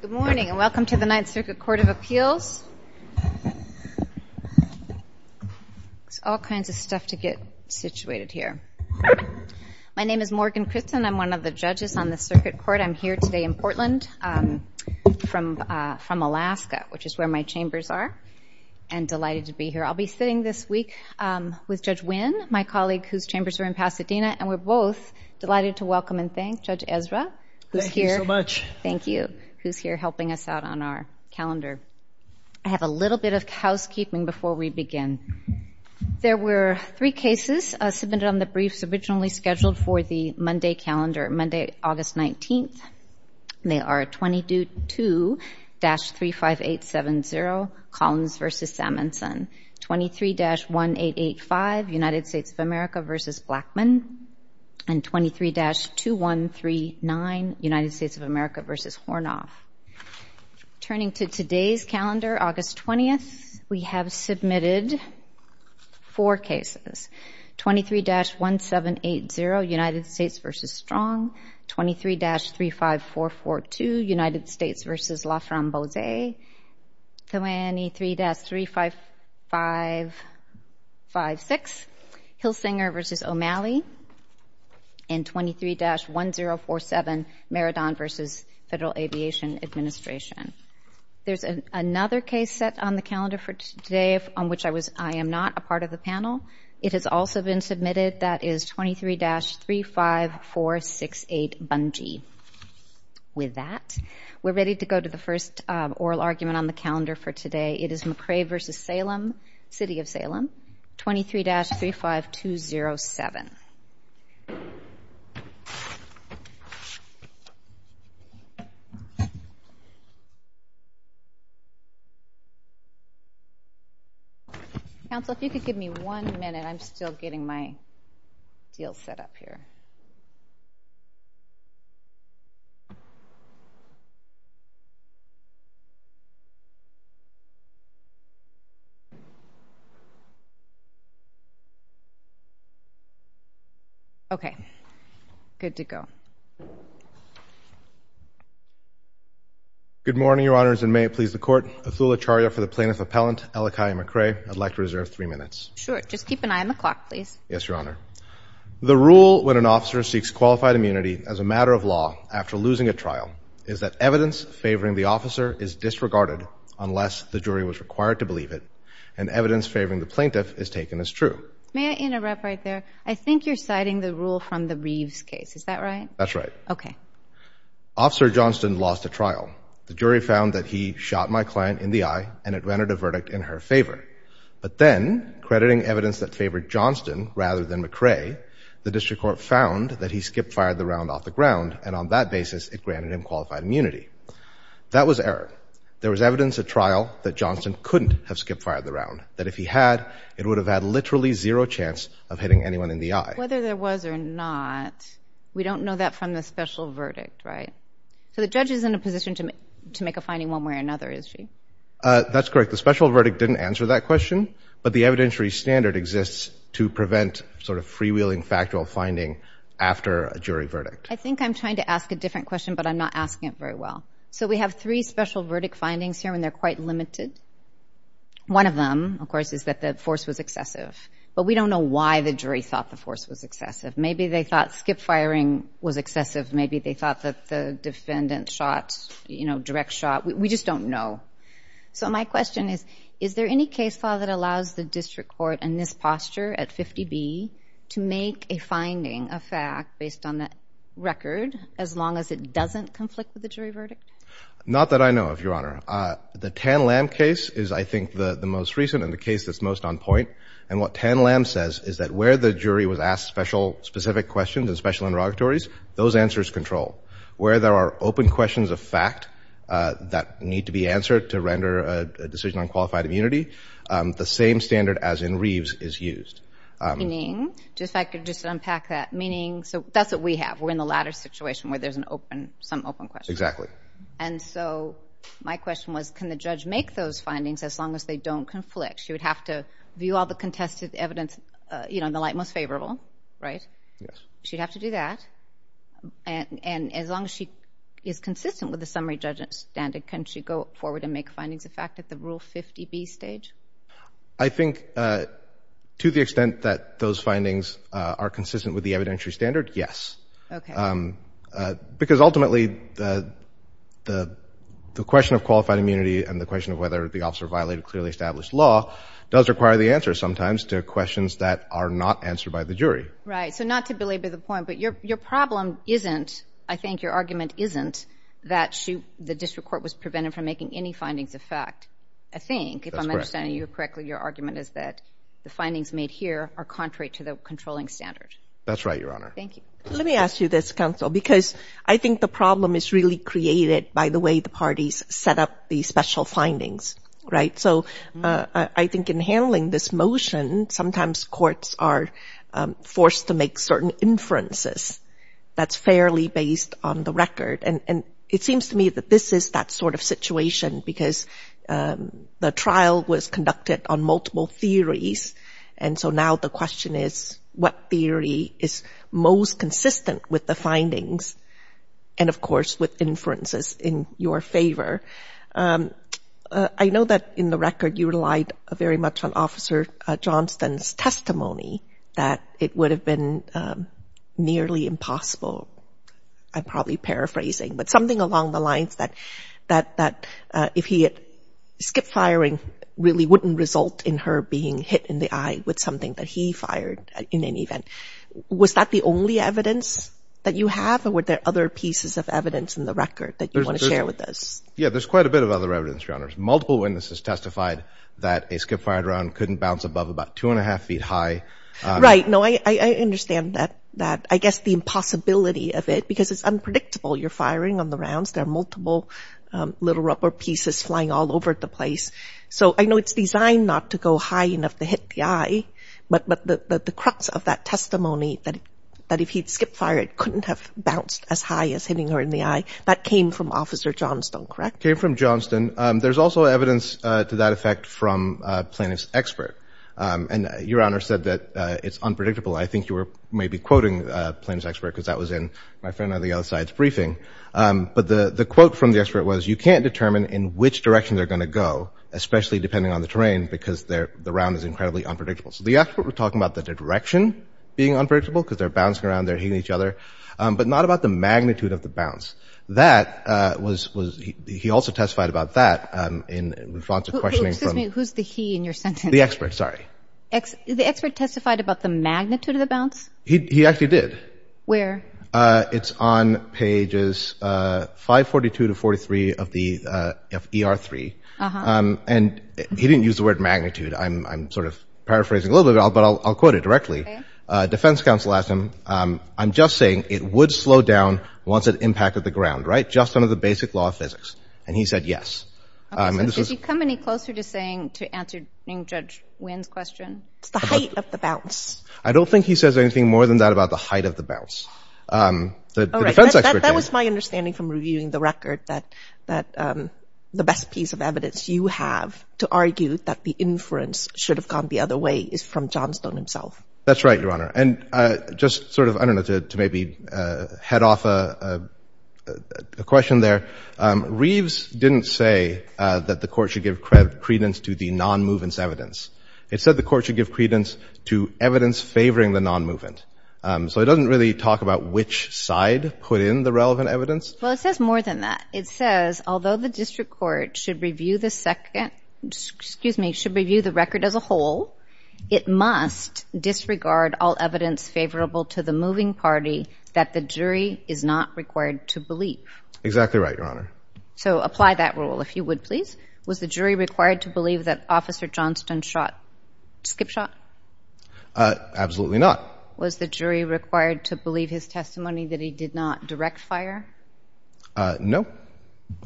Good morning and welcome to the Ninth Circuit Court of Appeals. There's all kinds of stuff to get situated here. My name is Morgan Critton. I'm one of the judges on the Circuit Court. I'm here today in Portland from Alaska, which is where my chambers are, and delighted to be here. I'll be sitting this week with Judge Wynn, my colleague whose chambers are in Pasadena, and we're both delighted to welcome and thank Judge Ezra. Thank you so much. Thank you, who's here helping us out on our calendar. I have a little bit of housekeeping before we begin. There were three cases submitted on the briefs originally scheduled for the Monday calendar, Monday, August 19th. They are 22-35870, Collins v. Sammonson, 23-1885, United States of America v. Blackmun, and 23-2139, United States of America v. Hornoff. Turning to today's calendar, August 20th, we have submitted four cases, 23-1780, United States v. Strong, 23-35442, United States v. Laframboise, 23-3556, Hillsinger v. O'Malley, and 23-1047, Maradon v. Federal Aviation Administration. There's another case set on the calendar for today on which I am not a part of the panel. It has also been submitted. That is 23-35468, Bungie. With that, we're ready to go to the first oral argument on the calendar for today. It is McRae v. Salem, City of Salem, 23-35207. Counsel, if you could give me one minute, I'm still getting my deal set up here. Okay. Good to go. Good morning, Your Honors, and may it please the Court. Othula Charia for the Plaintiff Appellant, Elokia McRae. I'd like to reserve three minutes. Sure. Just keep an eye on the clock, please. Yes, Your Honor. The rule when an officer seeks qualified immunity as a matter of law after losing a trial is that evidence favoring the officer is disregarded unless the jury was required to believe it and evidence favoring the plaintiff is taken as true. May I interrupt right there? I think you're citing the rule from the Reeves case. Is that right? That's right. Okay. Officer Johnston lost a trial. The jury found that he shot my client in the eye and it granted a verdict in her favor. But then, crediting evidence that favored Johnston rather than McRae, the district court found that he skip-fired the round off the ground, and on that basis, it granted him qualified immunity. That was error. There was evidence at trial that Johnston couldn't have skip-fired the round, that if he had, it would have had literally zero chance of hitting anyone in the eye. Whether there was or not, we don't know that from the special verdict, right? So the judge is in a position to make a finding one way or another, is she? That's correct. The special verdict didn't answer that question, but the evidentiary standard exists to prevent sort of freewheeling factual finding after a jury verdict. I think I'm trying to ask a different question, but I'm not asking it very well. So we have three special verdict findings here, and they're quite limited. One of them, of course, is that the force was excessive. But we don't know why the jury thought the force was excessive. Maybe they thought skip-firing was excessive. Maybe they thought that the defendant shot, you know, direct shot. We just don't know. So my question is, is there any case law that allows the district court in this posture at 50B to make a finding, a fact, based on that record, as long as it doesn't conflict with the jury verdict? Not that I know of, Your Honor. The Tan-Lam case is, I think, the most recent and the case that's most on point. And what Tan-Lam says is that where the jury was asked specific questions in special interrogatories, those answers control. Where there are open questions of fact that need to be answered to render a decision on qualified immunity, the same standard as in Reeves is used. Meaning? If I could just unpack that. Meaning, so that's what we have. We're in the latter situation where there's some open question. Exactly. And so my question was, can the judge make those findings as long as they don't conflict? She would have to view all the contested evidence, you know, in the light most favorable, right? Yes. She'd have to do that. And as long as she is consistent with the summary judgment standard, can she go forward and make findings of fact at the Rule 50B stage? I think to the extent that those findings are consistent with the evidentiary standard, yes. Okay. Because ultimately the question of qualified immunity and the question of whether the officer violated clearly established law does require the answer sometimes to questions that are not answered by the jury. Right. So not to belabor the point, but your problem isn't, I think your argument isn't, that the district court was prevented from making any findings of fact. I think, if I'm understanding you correctly, your argument is that the findings made here are contrary to the controlling standard. That's right, Your Honor. Thank you. Let me ask you this, Counsel, because I think the problem is really created by the way the parties set up these special findings, right? So I think in handling this motion, sometimes courts are forced to make certain inferences that's fairly based on the record. And it seems to me that this is that sort of situation because the trial was conducted on multiple theories, and so now the question is what theory is most consistent with the findings and, of course, with inferences in your favor. I know that in the record you relied very much on Officer Johnston's testimony that it would have been nearly impossible. I'm probably paraphrasing, but something along the lines that if he had skipped firing, it really wouldn't result in her being hit in the eye with something that he fired in an event. Was that the only evidence that you have, or were there other pieces of evidence in the record that you want to share with us? Yeah, there's quite a bit of other evidence, Your Honor. Multiple witnesses testified that a skip-fired round couldn't bounce above about two and a half feet high. Right. No, I understand that. I guess the impossibility of it, because it's unpredictable. You're firing on the rounds. There are multiple little rubber pieces flying all over the place. So I know it's designed not to go high enough to hit the eye, but the crux of that testimony, that if he'd skipped fire, it couldn't have bounced as high as hitting her in the eye, that came from Officer Johnston, correct? It came from Johnston. There's also evidence to that effect from a plaintiff's expert, and Your Honor said that it's unpredictable. I think you were maybe quoting a plaintiff's expert because that was in my friend on the other side's briefing. But the quote from the expert was, you can't determine in which direction they're going to go, especially depending on the terrain, because the round is incredibly unpredictable. So the expert was talking about the direction being unpredictable because they're bouncing around, they're hitting each other, but not about the magnitude of the bounce. That was – he also testified about that in response to questioning from – Excuse me, who's the he in your sentence? The expert, sorry. The expert testified about the magnitude of the bounce? He actually did. It's on pages 542 to 43 of the – of ER-3. Uh-huh. And he didn't use the word magnitude. I'm sort of paraphrasing a little bit, but I'll quote it directly. Okay. Defense counsel asked him, I'm just saying it would slow down once it impacted the ground, right? Just under the basic law of physics. And he said yes. Okay, so does he come any closer to saying – to answering Judge Wynn's question? It's the height of the bounce. I don't think he says anything more than that about the height of the bounce. All right. That was my understanding from reviewing the record that the best piece of evidence you have to argue that the inference should have gone the other way is from Johnstone himself. That's right, Your Honor. And just sort of, I don't know, to maybe head off a question there, Reeves didn't say that the court should give credence to the non-movance evidence. It said the court should give credence to evidence favoring the non-movement. So it doesn't really talk about which side put in the relevant evidence. Well, it says more than that. It says, although the district court should review the second – excuse me, should review the record as a whole, it must disregard all evidence favorable to the moving party that the jury is not required to believe. Exactly right, Your Honor. So apply that rule, if you would, please. Was the jury required to believe that Officer Johnstone skipped shot? Absolutely not. Was the jury required to believe his testimony that he did not direct fire? No.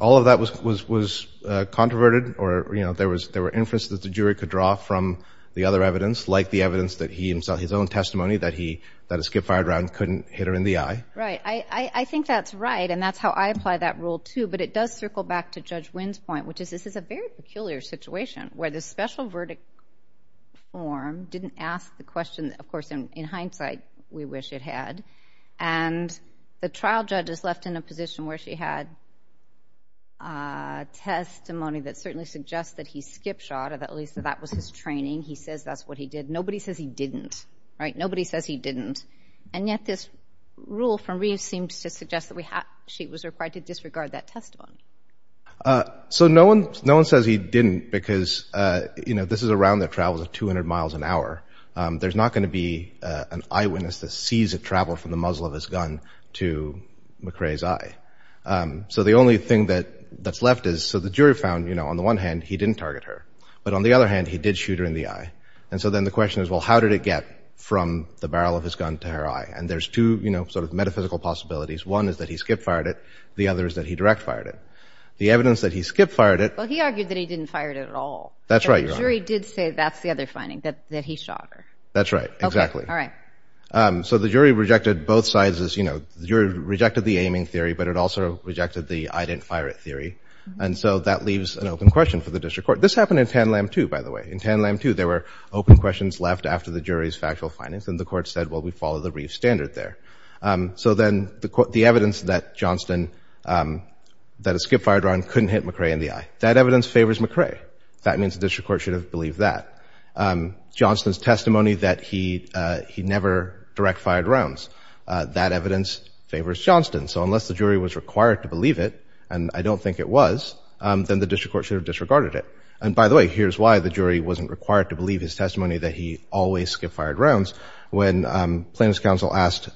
All of that was controverted or, you know, there were inferences that the jury could draw from the other evidence, like the evidence that he himself, his own testimony, that a skip-fired round couldn't hit her in the eye. Right. I think that's right, and that's how I apply that rule, too. But it does circle back to Judge Wynn's point, which is this is a very peculiar situation, where the special verdict form didn't ask the question that, of course, in hindsight, we wish it had. And the trial judge is left in a position where she had testimony that certainly suggests that he skipped shot or at least that that was his training. He says that's what he did. Nobody says he didn't. Right? Nobody says he didn't. And yet this rule from Reeves seems to suggest that she was required to disregard that testimony. So no one says he didn't because, you know, this is a round that travels at 200 miles an hour. There's not going to be an eyewitness that sees it travel from the muzzle of his gun to McCrae's eye. So the only thing that's left is so the jury found, you know, on the one hand, he didn't target her. But on the other hand, he did shoot her in the eye. And so then the question is, well, how did it get from the barrel of his gun to her eye? And there's two, you know, sort of metaphysical possibilities. One is that he skip-fired it. The other is that he direct-fired it. The evidence that he skip-fired it. Well, he argued that he didn't fire it at all. That's right, Your Honor. But the jury did say that's the other finding, that he shot her. That's right. Exactly. Okay. All right. So the jury rejected both sides. You know, the jury rejected the aiming theory, but it also rejected the I didn't fire it theory. And so that leaves an open question for the district court. This happened in Tanlam, too, by the way. In Tanlam, too, there were open questions left after the jury's factual findings, and the court said, well, we follow the Reeve standard there. So then the evidence that Johnston, that a skip-fired round couldn't hit McCrae in the eye, that evidence favors McCrae. That means the district court should have believed that. Johnston's testimony that he never direct-fired rounds, that evidence favors Johnston. So unless the jury was required to believe it, and I don't think it was, then the district court should have disregarded it. And, by the way, here's why the jury wasn't required to believe his testimony that he always skip-fired rounds. When plaintiff's counsel asked,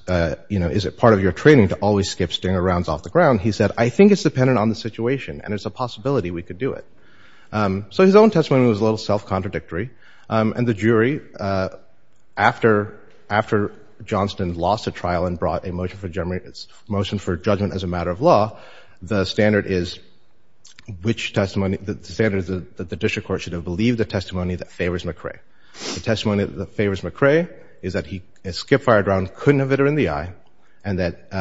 you know, is it part of your training to always skip stinger rounds off the ground, he said, I think it's dependent on the situation and it's a possibility we could do it. So his own testimony was a little self-contradictory. And the jury, after Johnston lost the trial and brought a motion for judgment as a matter of law, the standard is which testimony, the standard is that the district court should have believed the testimony that favors McCrae. The testimony that favors McCrae is that a skip-fired round couldn't have hit him in the eye, and that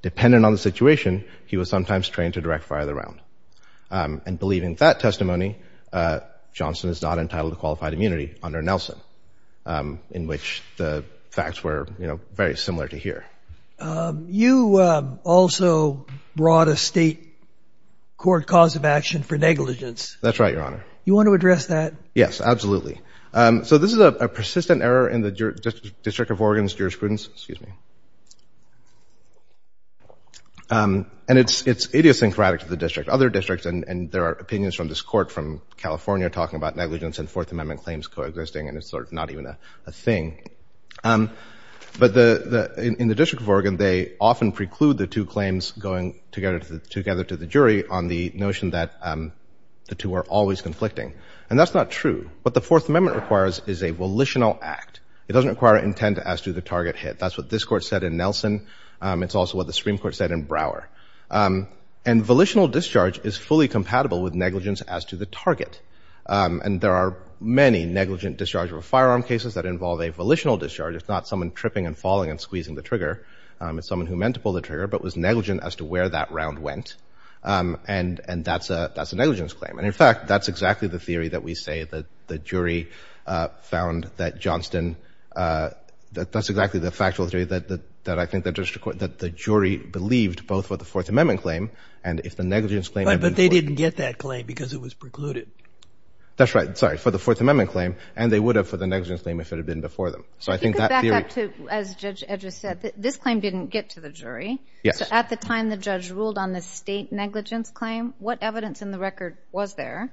dependent on the situation, he was sometimes trained to direct-fire the round. And believing that testimony, Johnston is not entitled to qualified immunity under Nelson, in which the facts were, you know, very similar to here. You also brought a state court cause of action for negligence. That's right, Your Honor. You want to address that? Yes, absolutely. So this is a persistent error in the District of Oregon's jurisprudence. Excuse me. And it's idiosyncratic to the district. Other districts, and there are opinions from this court from California talking about negligence and Fourth Amendment claims coexisting, and it's sort of not even a thing. But in the District of Oregon, they often preclude the two claims going together to the jury on the notion that the two are always conflicting. And that's not true. What the Fourth Amendment requires is a volitional act. It doesn't require intent as to the target hit. That's what this court said in Nelson. It's also what the Supreme Court said in Brower. And volitional discharge is fully compatible with negligence as to the target. And there are many negligent discharge of a firearm cases that involve a volitional discharge. It's not someone tripping and falling and squeezing the trigger. It's someone who meant to pull the trigger but was negligent as to where that round went. And that's a negligence claim. And, in fact, that's exactly the theory that we say that the jury found that Johnston – that's exactly the factual theory that I think the jury believed both with the Fourth Amendment claim and if the negligence claim – That's right. Sorry. For the Fourth Amendment claim. And they would have for the negligence claim if it had been before them. So I think that theory – If you could back up to – as Judge Edger said, this claim didn't get to the jury. Yes. So at the time the judge ruled on the state negligence claim, what evidence in the record was there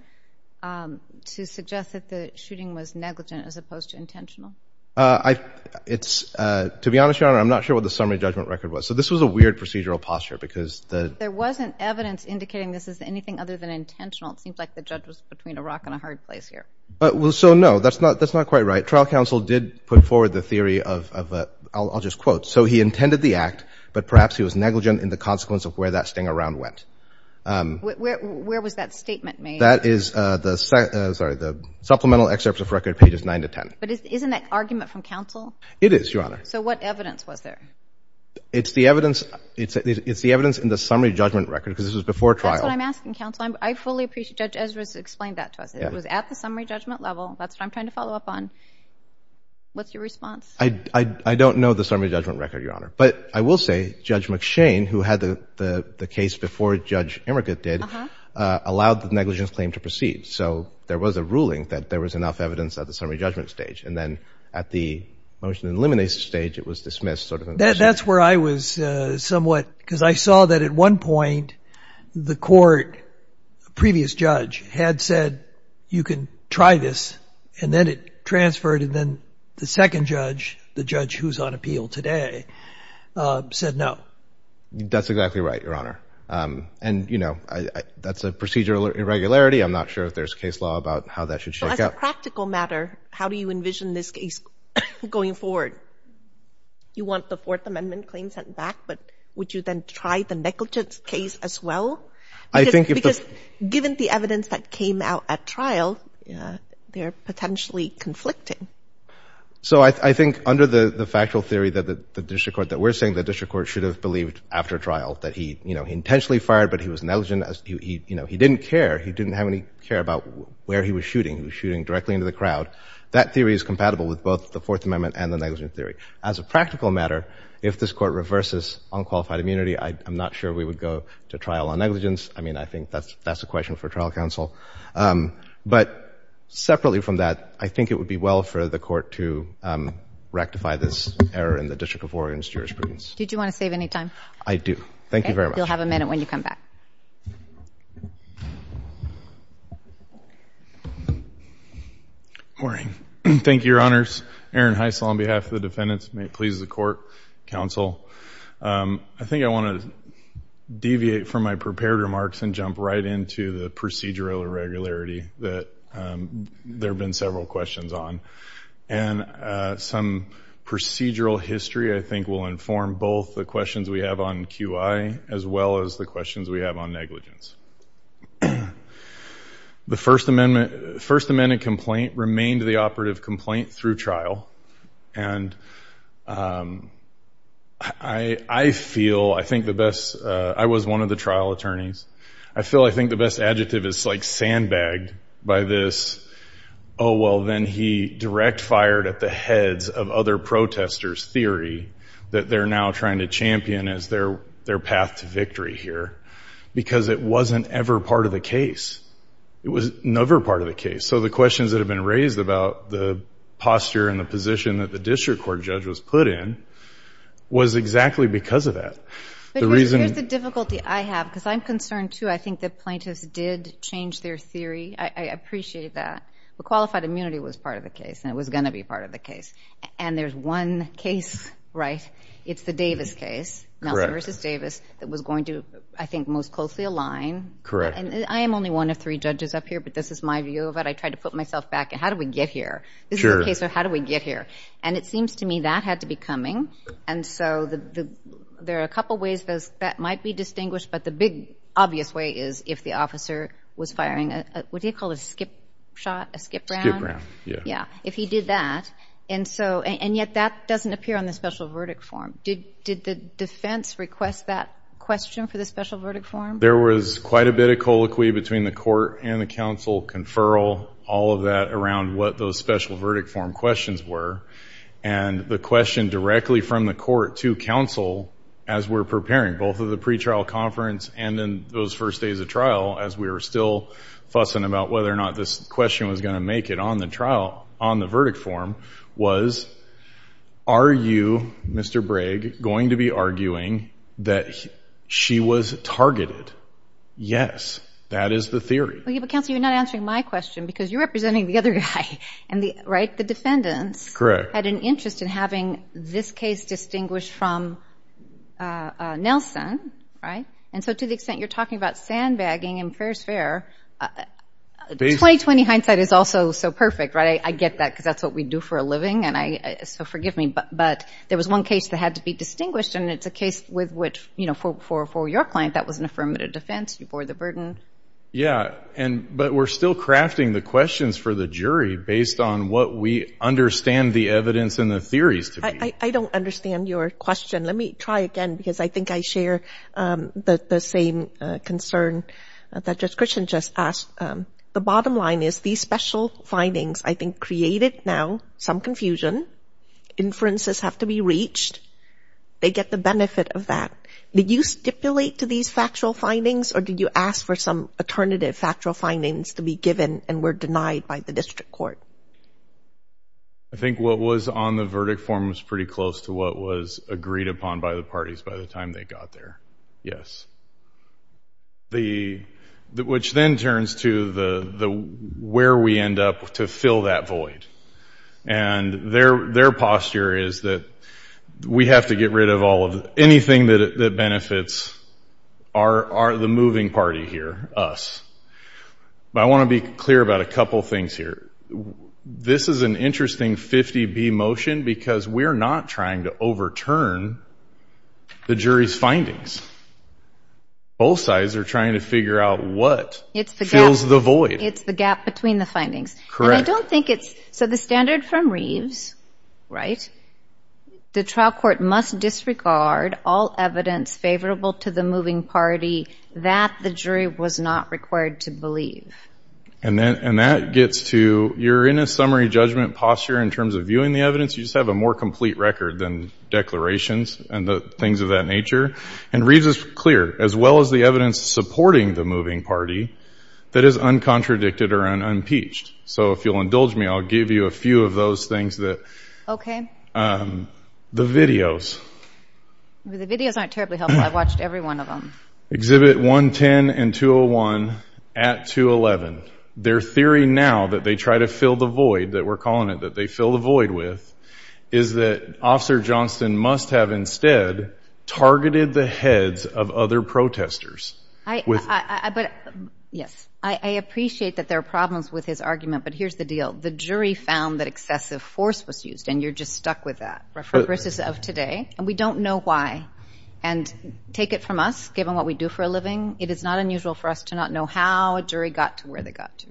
to suggest that the shooting was negligent as opposed to intentional? I – it's – to be honest, Your Honor, I'm not sure what the summary judgment record was. So this was a weird procedural posture because the – There wasn't evidence indicating this is anything other than intentional. It seems like the judge was between a rock and a hard place here. Well, so no. That's not quite right. Trial counsel did put forward the theory of – I'll just quote. So he intended the act, but perhaps he was negligent in the consequence of where that sting around went. Where was that statement made? That is the – sorry – the supplemental excerpt of record pages 9 to 10. But isn't that argument from counsel? It is, Your Honor. So what evidence was there? It's the evidence – it's the evidence in the summary judgment record because this was before trial. That's what I'm asking, counsel. I fully appreciate – Judge Ezra's explained that to us. It was at the summary judgment level. That's what I'm trying to follow up on. What's your response? I don't know the summary judgment record, Your Honor. But I will say Judge McShane, who had the case before Judge Emmerich did, allowed the negligence claim to proceed. So there was a ruling that there was enough evidence at the summary judgment stage. And then at the motion and elimination stage, it was dismissed, sort of. That's where I was somewhat – because I saw that at one point the court, the previous judge had said you can try this, and then it transferred, and then the second judge, the judge who's on appeal today, said no. That's exactly right, Your Honor. And, you know, that's a procedural irregularity. I'm not sure if there's case law about how that should shake out. As a practical matter, how do you envision this case going forward? You want the Fourth Amendment claim sent back, but would you then try the negligence case as well? I think if the – Because given the evidence that came out at trial, they're potentially conflicting. So I think under the factual theory that the district court – that we're saying the district court should have believed after trial that he, you know, he intentionally fired, but he was negligent. You know, he didn't care. He didn't have any care about where he was shooting. He was shooting directly into the crowd. That theory is compatible with both the Fourth Amendment and the negligence theory. As a practical matter, if this court reverses unqualified immunity, I'm not sure we would go to trial on negligence. I mean, I think that's a question for trial counsel. But separately from that, I think it would be well for the court to rectify this error in the District of Oregon's jurisprudence. Did you want to save any time? I do. Thank you very much. Okay. You'll have a minute when you come back. Morning. Thank you, Your Honors. Aaron Heissel on behalf of the defendants. May it please the court, counsel. I think I want to deviate from my prepared remarks and jump right into the procedural irregularity that there have been several questions on. And some procedural history, I think, will inform both the questions we have on QI as well as the questions we have on negligence. The First Amendment complaint remained the operative complaint through trial. And I feel I think the best – I was one of the trial attorneys. I feel I think the best adjective is like sandbagged by this, oh, well, then he direct fired at the heads of other protesters theory that they're now trying to champion as their path to victory here because it wasn't ever part of the case. It was never part of the case. So the questions that have been raised about the posture and the position that the district court judge was put in was exactly because of that. Here's the difficulty I have because I'm concerned, too. I think the plaintiffs did change their theory. I appreciate that. Qualified immunity was part of the case, and it was going to be part of the case. And there's one case, right? It's the Davis case, Nelson v. Davis, that was going to, I think, most closely align. Correct. I am only one of three judges up here, but this is my view of it. I tried to put myself back. How do we get here? This is a case of how do we get here? And it seems to me that had to be coming. And so there are a couple ways that might be distinguished, but the big obvious way is if the officer was firing a – what do you call it, a skip shot, a skip round? Skip round, yeah. Yeah, if he did that. And yet that doesn't appear on the special verdict form. Did the defense request that question for the special verdict form? There was quite a bit of colloquy between the court and the counsel, conferral, all of that around what those special verdict form questions were, and the question directly from the court to counsel as we're preparing, both of the pretrial conference and in those first days of trial as we were still fussing about whether or not this question was going to make it on the trial, on the verdict form, was are you, Mr. Bragg, going to be arguing that she was targeted? Yes. That is the theory. But, counsel, you're not answering my question because you're representing the other guy, right? The defendants had an interest in having this case distinguished from Nelson, right? And so to the extent you're talking about sandbagging and fair is fair, 20-20 hindsight is also so perfect, right? I get that because that's what we do for a living, so forgive me. But there was one case that had to be distinguished, and it's a case with which for your client that was an affirmative defense. You bore the burden. Yeah, but we're still crafting the questions for the jury based on what we understand the evidence and the theories to be. I don't understand your question. Let me try again because I think I share the same concern that Judge Christian just asked. The bottom line is these special findings, I think, created now some confusion. Inferences have to be reached. They get the benefit of that. Did you stipulate to these factual findings or did you ask for some alternative factual findings to be given and were denied by the district court? I think what was on the verdict form was pretty close to what was agreed upon by the parties by the time they got there. Yes. Which then turns to where we end up to fill that void. And their posture is that we have to get rid of anything that benefits the moving party here, us. But I want to be clear about a couple things here. This is an interesting 50-B motion because we're not trying to overturn the jury's findings. Both sides are trying to figure out what fills the void. It's the gap between the findings. Correct. And I don't think it's so the standard from Reeves, right, the trial court must disregard all evidence favorable to the moving party that the jury was not required to believe. And that gets to you're in a summary judgment posture in terms of viewing the evidence. You just have a more complete record than declarations and things of that nature. And Reeves is clear, as well as the evidence supporting the moving party, that is uncontradicted or unimpeached. So if you'll indulge me, I'll give you a few of those things. Okay. The videos. The videos aren't terribly helpful. I watched every one of them. Exhibit 110 and 201 at 211. Their theory now that they try to fill the void that we're calling it, that they fill the void with, is that Officer Johnston must have instead targeted the heads of other protesters. Yes. I appreciate that there are problems with his argument, but here's the deal. The jury found that excessive force was used, and you're just stuck with that. References of today. And we don't know why. And take it from us, given what we do for a living, it is not unusual for us to not know how a jury got to where they got to.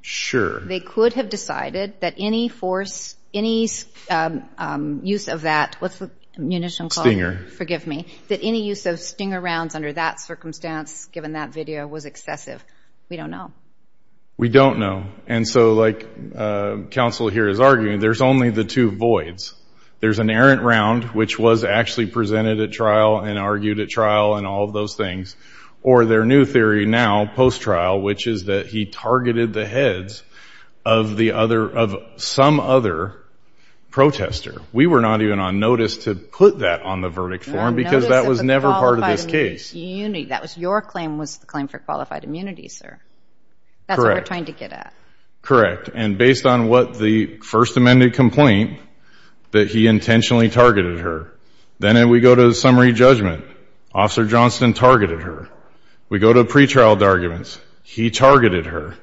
Sure. They could have decided that any force, any use of that, what's the munition called? Forgive me. That any use of stinger rounds under that circumstance, given that video, was excessive. We don't know. We don't know. And so, like counsel here is arguing, there's only the two voids. There's an errant round, which was actually presented at trial and argued at trial and all of those things. Or their new theory now, post-trial, which is that he targeted the heads of some other protester. We were not even on notice to put that on the verdict form because that was never part of this case. Your claim was the claim for qualified immunity, sir. Correct. That's what we're trying to get at. Correct. And based on what the First Amendment complaint, that he intentionally targeted her. Then we go to summary judgment. Officer Johnston targeted her. We go to pretrial arguments. He targeted her.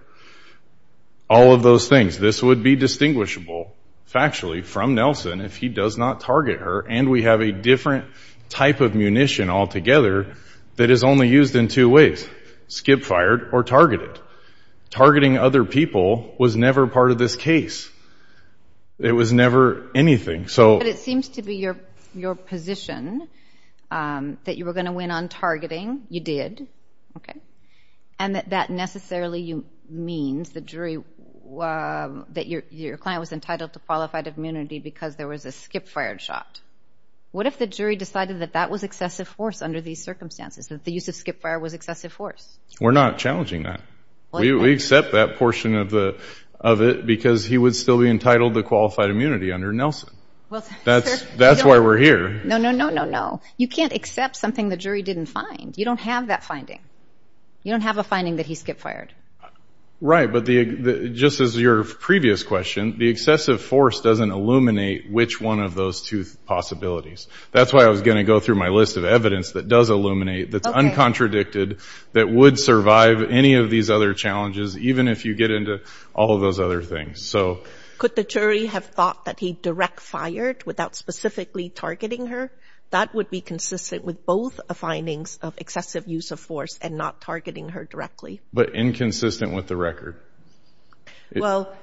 All of those things. This would be distinguishable factually from Nelson if he does not target her and we have a different type of munition altogether that is only used in two ways, skip-fired or targeted. Targeting other people was never part of this case. It was never anything. But it seems to be your position that you were going to win on targeting. You did. And that necessarily means that your client was entitled to qualified immunity because there was a skip-fired shot. What if the jury decided that that was excessive force under these circumstances, that the use of skip-fire was excessive force? We're not challenging that. We accept that portion of it because he would still be entitled to qualified immunity under Nelson. That's why we're here. No, no, no, no, no. You can't accept something the jury didn't find. You don't have that finding. You don't have a finding that he skip-fired. Right. But just as your previous question, the excessive force doesn't illuminate which one of those two possibilities. That's why I was going to go through my list of evidence that does illuminate, that's uncontradicted, that would survive any of these other challenges, even if you get into all of those other things. Could the jury have thought that he direct-fired without specifically targeting her? That would be consistent with both findings of excessive use of force and not targeting her directly. But inconsistent with the record. Well,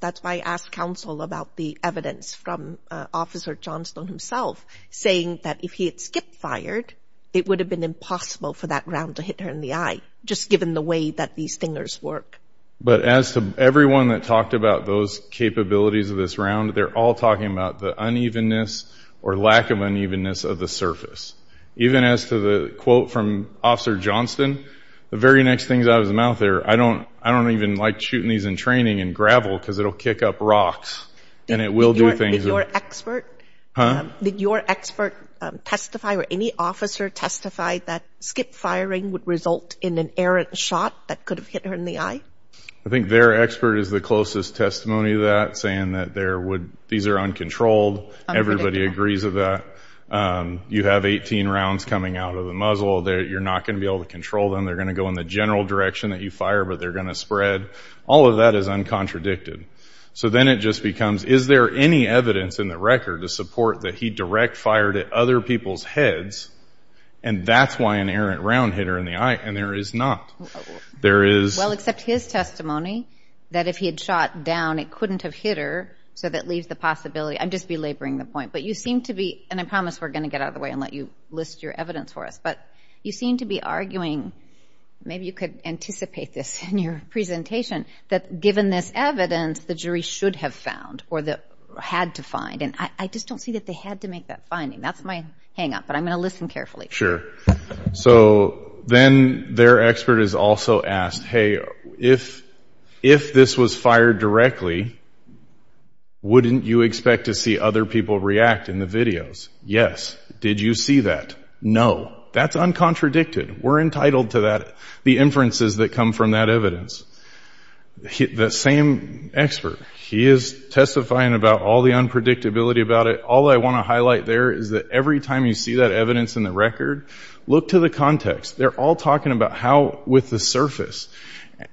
that's why I asked counsel about the evidence from Officer Johnstone himself, saying that if he had skip-fired, it would have been impossible for that round to hit her in the eye, just given the way that these fingers work. But as to everyone that talked about those capabilities of this round, they're all talking about the unevenness or lack of unevenness of the surface. Even as to the quote from Officer Johnstone, the very next things out of his mouth there, I don't even like shooting these in training in gravel because it will kick up rocks and it will do things. Did your expert testify or any officer testify that skip-firing would result in an errant shot that could have hit her in the eye? I think their expert is the closest testimony to that, saying that these are uncontrolled. Everybody agrees with that. You have 18 rounds coming out of the muzzle. You're not going to be able to control them. They're going to go in the general direction that you fire, but they're going to spread. All of that is uncontradicted. So then it just becomes, is there any evidence in the record to support that he direct-fired at other people's heads, and that's why an errant round hit her in the eye? And there is not. Well, except his testimony, that if he had shot down, it couldn't have hit her, so that leaves the possibility. I'm just belaboring the point. But you seem to be, and I promise we're going to get out of the way and let you list your evidence for us, but you seem to be arguing, maybe you could anticipate this in your presentation, that given this evidence, the jury should have found or had to find, and I just don't see that they had to make that finding. That's my hang-up, but I'm going to listen carefully. So then their expert is also asked, hey, if this was fired directly, wouldn't you expect to see other people react in the videos? Yes. Did you see that? No. That's uncontradicted. We're entitled to that, the inferences that come from that evidence. The same expert, he is testifying about all the unpredictability about it. All I want to highlight there is that every time you see that evidence in the record, look to the context. They're all talking about how, with the surface,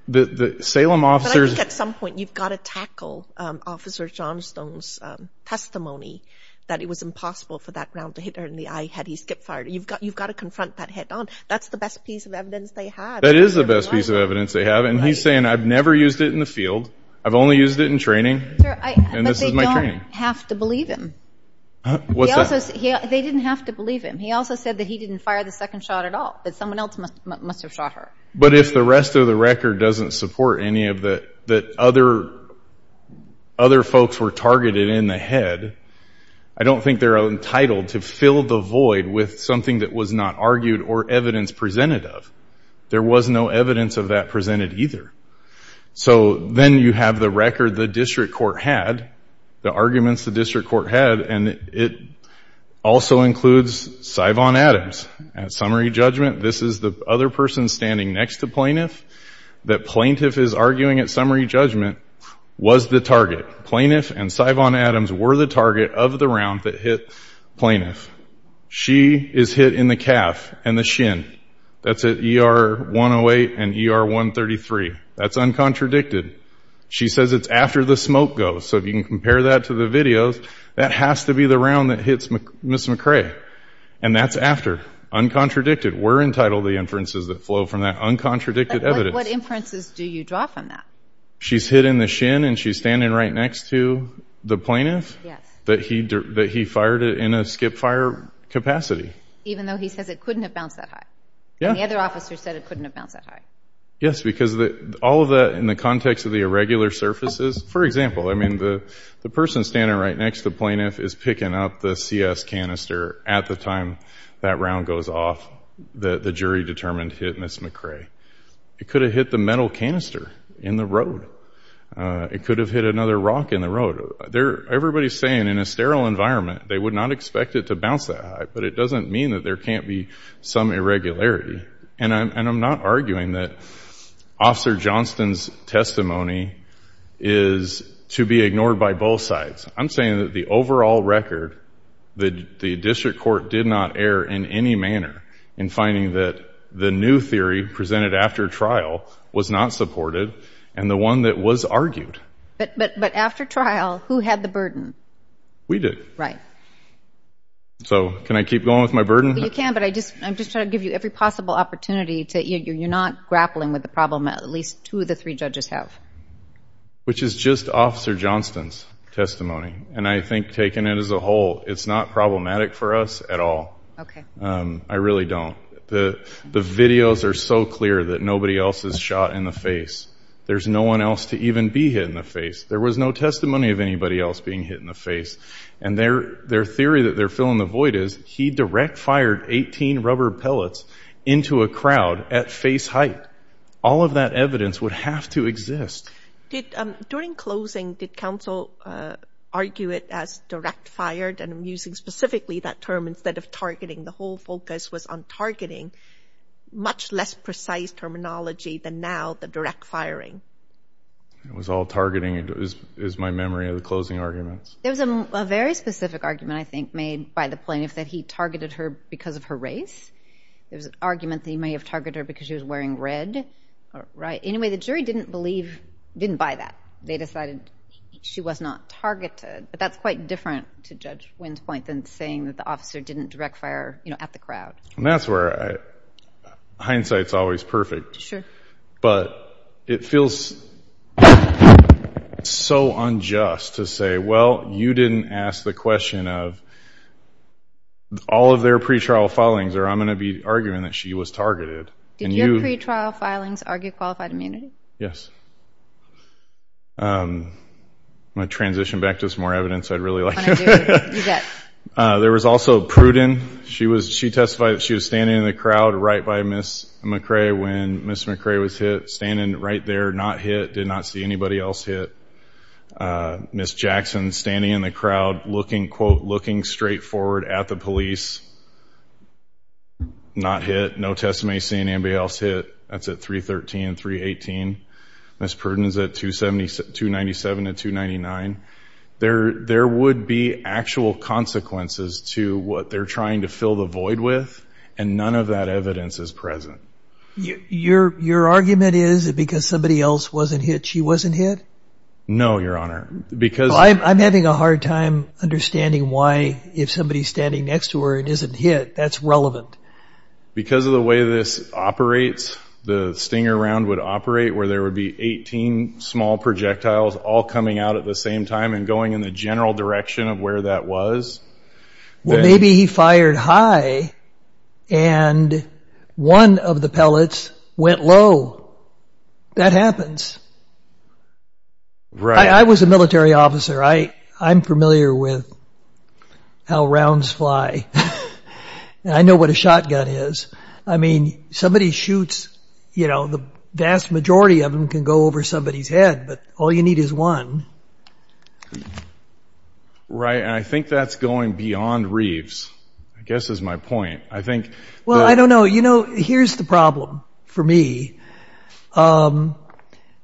the Salem officers ---- But I think at some point you've got to tackle Officer Johnstone's testimony that it was impossible for that round to hit her in the eye had he skip-fired. You've got to confront that head-on. That's the best piece of evidence they have. That is the best piece of evidence they have, and he's saying, I've never used it in the field, I've only used it in training, and this is my training. But they don't have to believe him. What's that? They didn't have to believe him. He also said that he didn't fire the second shot at all, that someone else must have shot her. But if the rest of the record doesn't support any of that, that other folks were targeted in the head, I don't think they're entitled to fill the void with something that was not argued or evidence presented of. There was no evidence of that presented either. So then you have the record the district court had, the arguments the district court had, and it also includes Sivon Adams. At summary judgment, this is the other person standing next to plaintiff, that plaintiff is arguing at summary judgment was the target. Plaintiff and Sivon Adams were the target of the round that hit plaintiff. She is hit in the calf and the shin. That's at ER 108 and ER 133. That's uncontradicted. She says it's after the smoke goes. So if you can compare that to the videos, that has to be the round that hits Ms. McRae, and that's after, uncontradicted. We're entitled to the inferences that flow from that uncontradicted evidence. What inferences do you draw from that? She's hit in the shin and she's standing right next to the plaintiff? That he fired it in a skip-fire capacity? Even though he says it couldn't have bounced that high. Yeah. And the other officer said it couldn't have bounced that high. Yes, because all of that in the context of the irregular surfaces, for example, I mean the person standing right next to the plaintiff is picking up the CS canister at the time that round goes off that the jury determined hit Ms. McRae. It could have hit the metal canister in the road. It could have hit another rock in the road. Everybody's saying in a sterile environment they would not expect it to bounce that high, but it doesn't mean that there can't be some irregularity. And I'm not arguing that Officer Johnston's testimony is to be ignored by both sides. I'm saying that the overall record, the district court did not err in any manner in finding that the new theory presented after trial was not supported and the one that was argued. But after trial, who had the burden? We did. Right. So can I keep going with my burden? You can, but I'm just trying to give you every possible opportunity to, you're not grappling with the problem that at least two of the three judges have. Which is just Officer Johnston's testimony, and I think taking it as a whole, it's not problematic for us at all. Okay. I really don't. The videos are so clear that nobody else is shot in the face. There's no one else to even be hit in the face. There was no testimony of anybody else being hit in the face. And their theory that they're filling the void is he direct-fired 18 rubber pellets into a crowd at face height. All of that evidence would have to exist. During closing, did counsel argue it as direct-fired, and I'm using specifically that term instead of targeting. The whole focus was on targeting. Much less precise terminology than now the direct firing. It was all targeting is my memory of the closing arguments. There was a very specific argument, I think, made by the plaintiff that he targeted her because of her race. There was an argument that he may have targeted her because she was wearing red. Anyway, the jury didn't buy that. They decided she was not targeted. But that's quite different, to Judge Wynn's point, than saying that the officer didn't direct fire at the crowd. And that's where hindsight's always perfect. But it feels so unjust to say, well, you didn't ask the question of all of their pretrial filings or I'm going to be arguing that she was targeted. Did your pretrial filings argue qualified immunity? Yes. I'm going to transition back to some more evidence I'd really like. There was also Pruden. She testified that she was standing in the crowd right by Ms. McRae when Ms. McRae was hit, standing right there, not hit, did not see anybody else hit. Ms. Jackson, standing in the crowd, looking, quote, looking straight forward at the police, not hit, no testimony, seeing anybody else hit, that's at 313, 318. Ms. Pruden's at 297 and 299. There would be actual consequences to what they're trying to fill the void with, and none of that evidence is present. Your argument is because somebody else wasn't hit, she wasn't hit? No, Your Honor. I'm having a hard time understanding why, if somebody's standing next to her and isn't hit, that's relevant. Because of the way this operates, the Stinger round would operate where there would be 18 small projectiles all coming out at the same time and going in the general direction of where that was. Well, maybe he fired high and one of the pellets went low. That happens. I was a military officer. I'm familiar with how rounds fly. I know what a shotgun is. I mean, somebody shoots, you know, the vast majority of them can go over somebody's head, but all you need is one. Right, and I think that's going beyond Reeves, I guess is my point. Well, I don't know. You know, here's the problem for me.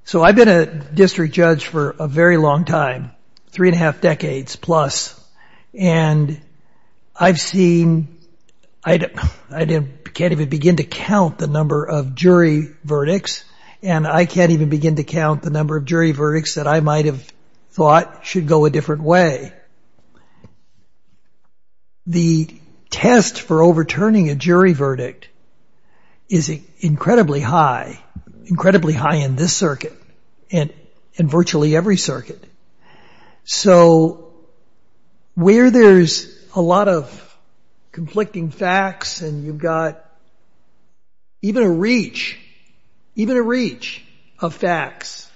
So I've been a district judge for a very long time, three and a half decades plus, and I've seen – I can't even begin to count the number of jury verdicts and I can't even begin to count the number of jury verdicts that I might have thought should go a different way. The test for overturning a jury verdict is incredibly high, incredibly high in this circuit and virtually every circuit. So where there's a lot of conflicting facts and you've got even a reach, even a reach of facts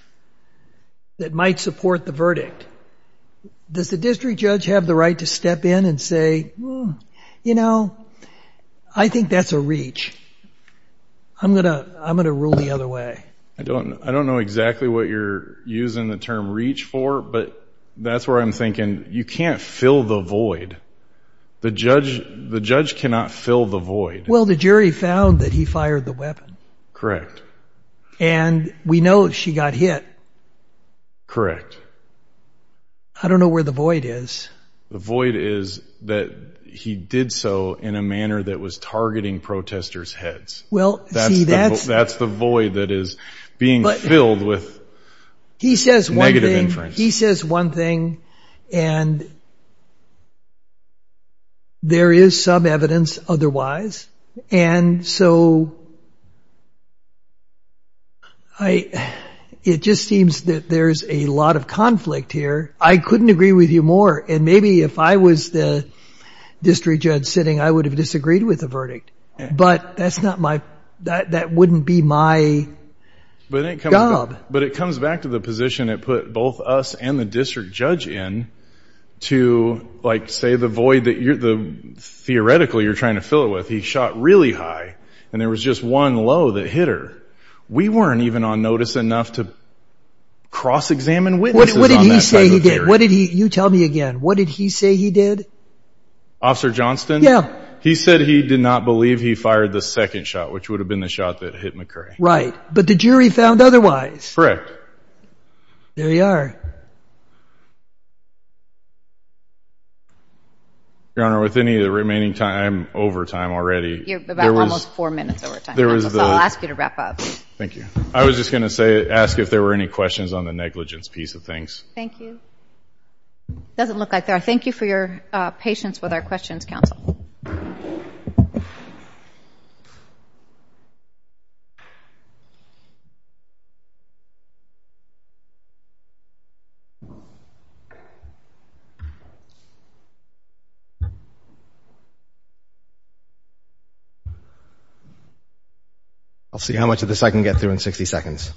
that might support the verdict, does the district judge have the right to step in and say, you know, I think that's a reach. I'm going to rule the other way. I don't know exactly what you're using the term reach for, but that's where I'm thinking you can't fill the void. The judge cannot fill the void. Well, the jury found that he fired the weapon. Correct. And we know she got hit. Correct. I don't know where the void is. The void is that he did so in a manner that was targeting protesters' heads. That's the void that is being filled with negative inference. He says one thing and there is some evidence otherwise. And so it just seems that there's a lot of conflict here. I couldn't agree with you more. And maybe if I was the district judge sitting, I would have disagreed with the verdict. But that wouldn't be my job. But it comes back to the position it put both us and the district judge in to, like, say, the void that theoretically you're trying to fill it with. He shot really high, and there was just one low that hit her. We weren't even on notice enough to cross-examine witnesses on that type of area. What did he say he did? You tell me again. What did he say he did? Officer Johnston? Yeah. He said he did not believe he fired the second shot, which would have been the shot that hit McCray. But the jury found otherwise. There you are. Your Honor, with any remaining time, I'm over time already. You're about almost four minutes over time. I'll ask you to wrap up. Thank you. I was just going to ask if there were any questions on the negligence piece of things. Thank you. It doesn't look like there are. Thank you for your patience with our questions, Counsel. I'll see how much of this I can get through in 60 seconds.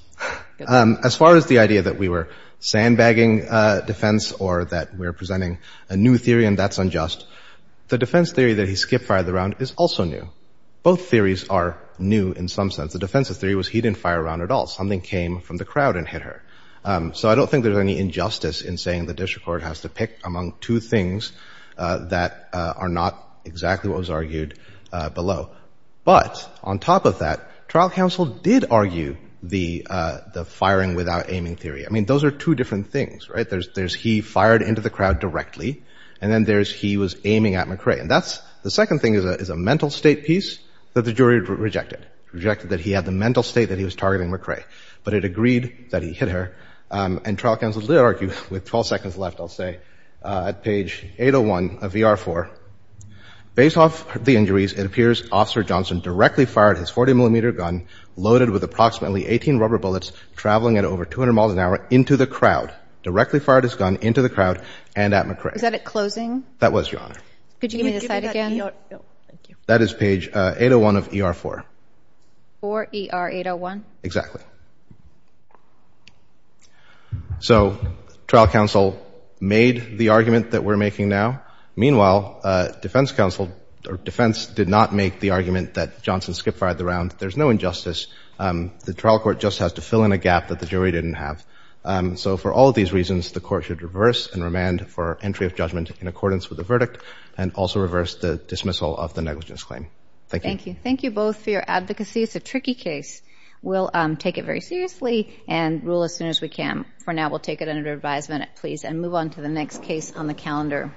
As far as the idea that we were sandbagging defense, or that we're presenting a new theory and that's unjust, the defense theory that he skip-fired the round is also new. Both theories are new in some sense. The defensive theory was he didn't fire a round at all. Something came from the crowd and hit her. So I don't think there's any injustice in saying the district court has to pick among two things that are not exactly what was argued below. But, on top of that, trial counsel did argue the firing without aiming theory. Those are two different things. There's he fired into the crowd directly, and then there's he was aiming at McCray. The second thing is a mental state piece that the jury rejected, rejected that he had the mental state that he was targeting McCray. But it agreed that he hit her, and trial counsel did argue, with 12 seconds left, I'll say, at page 801 of VR4, based off the injuries, it appears Officer Johnson directly fired his 40-millimeter gun, loaded with approximately 18 rubber bullets, traveling at over 200 miles an hour into the crowd, directly fired his gun into the crowd and at McCray. Is that at closing? That was, Your Honor. Could you give me the slide again? That is page 801 of ER4. For ER801? Exactly. So, trial counsel made the argument that we're making now. Meanwhile, defense counsel, or defense, did not make the argument that Johnson skip-fired the round. There's no injustice. The trial court just has to fill in a gap that the jury didn't have. So, for all of these reasons, the court should reverse and remand for entry of judgment in accordance with the verdict, and also reverse the dismissal of the negligence claim. Thank you. Thank you. Thank you both for your advocacy. It's a tricky case. We'll take it very seriously and rule as soon as we can. For now, we'll take it under advisement, please, and move on to the next case on the calendar.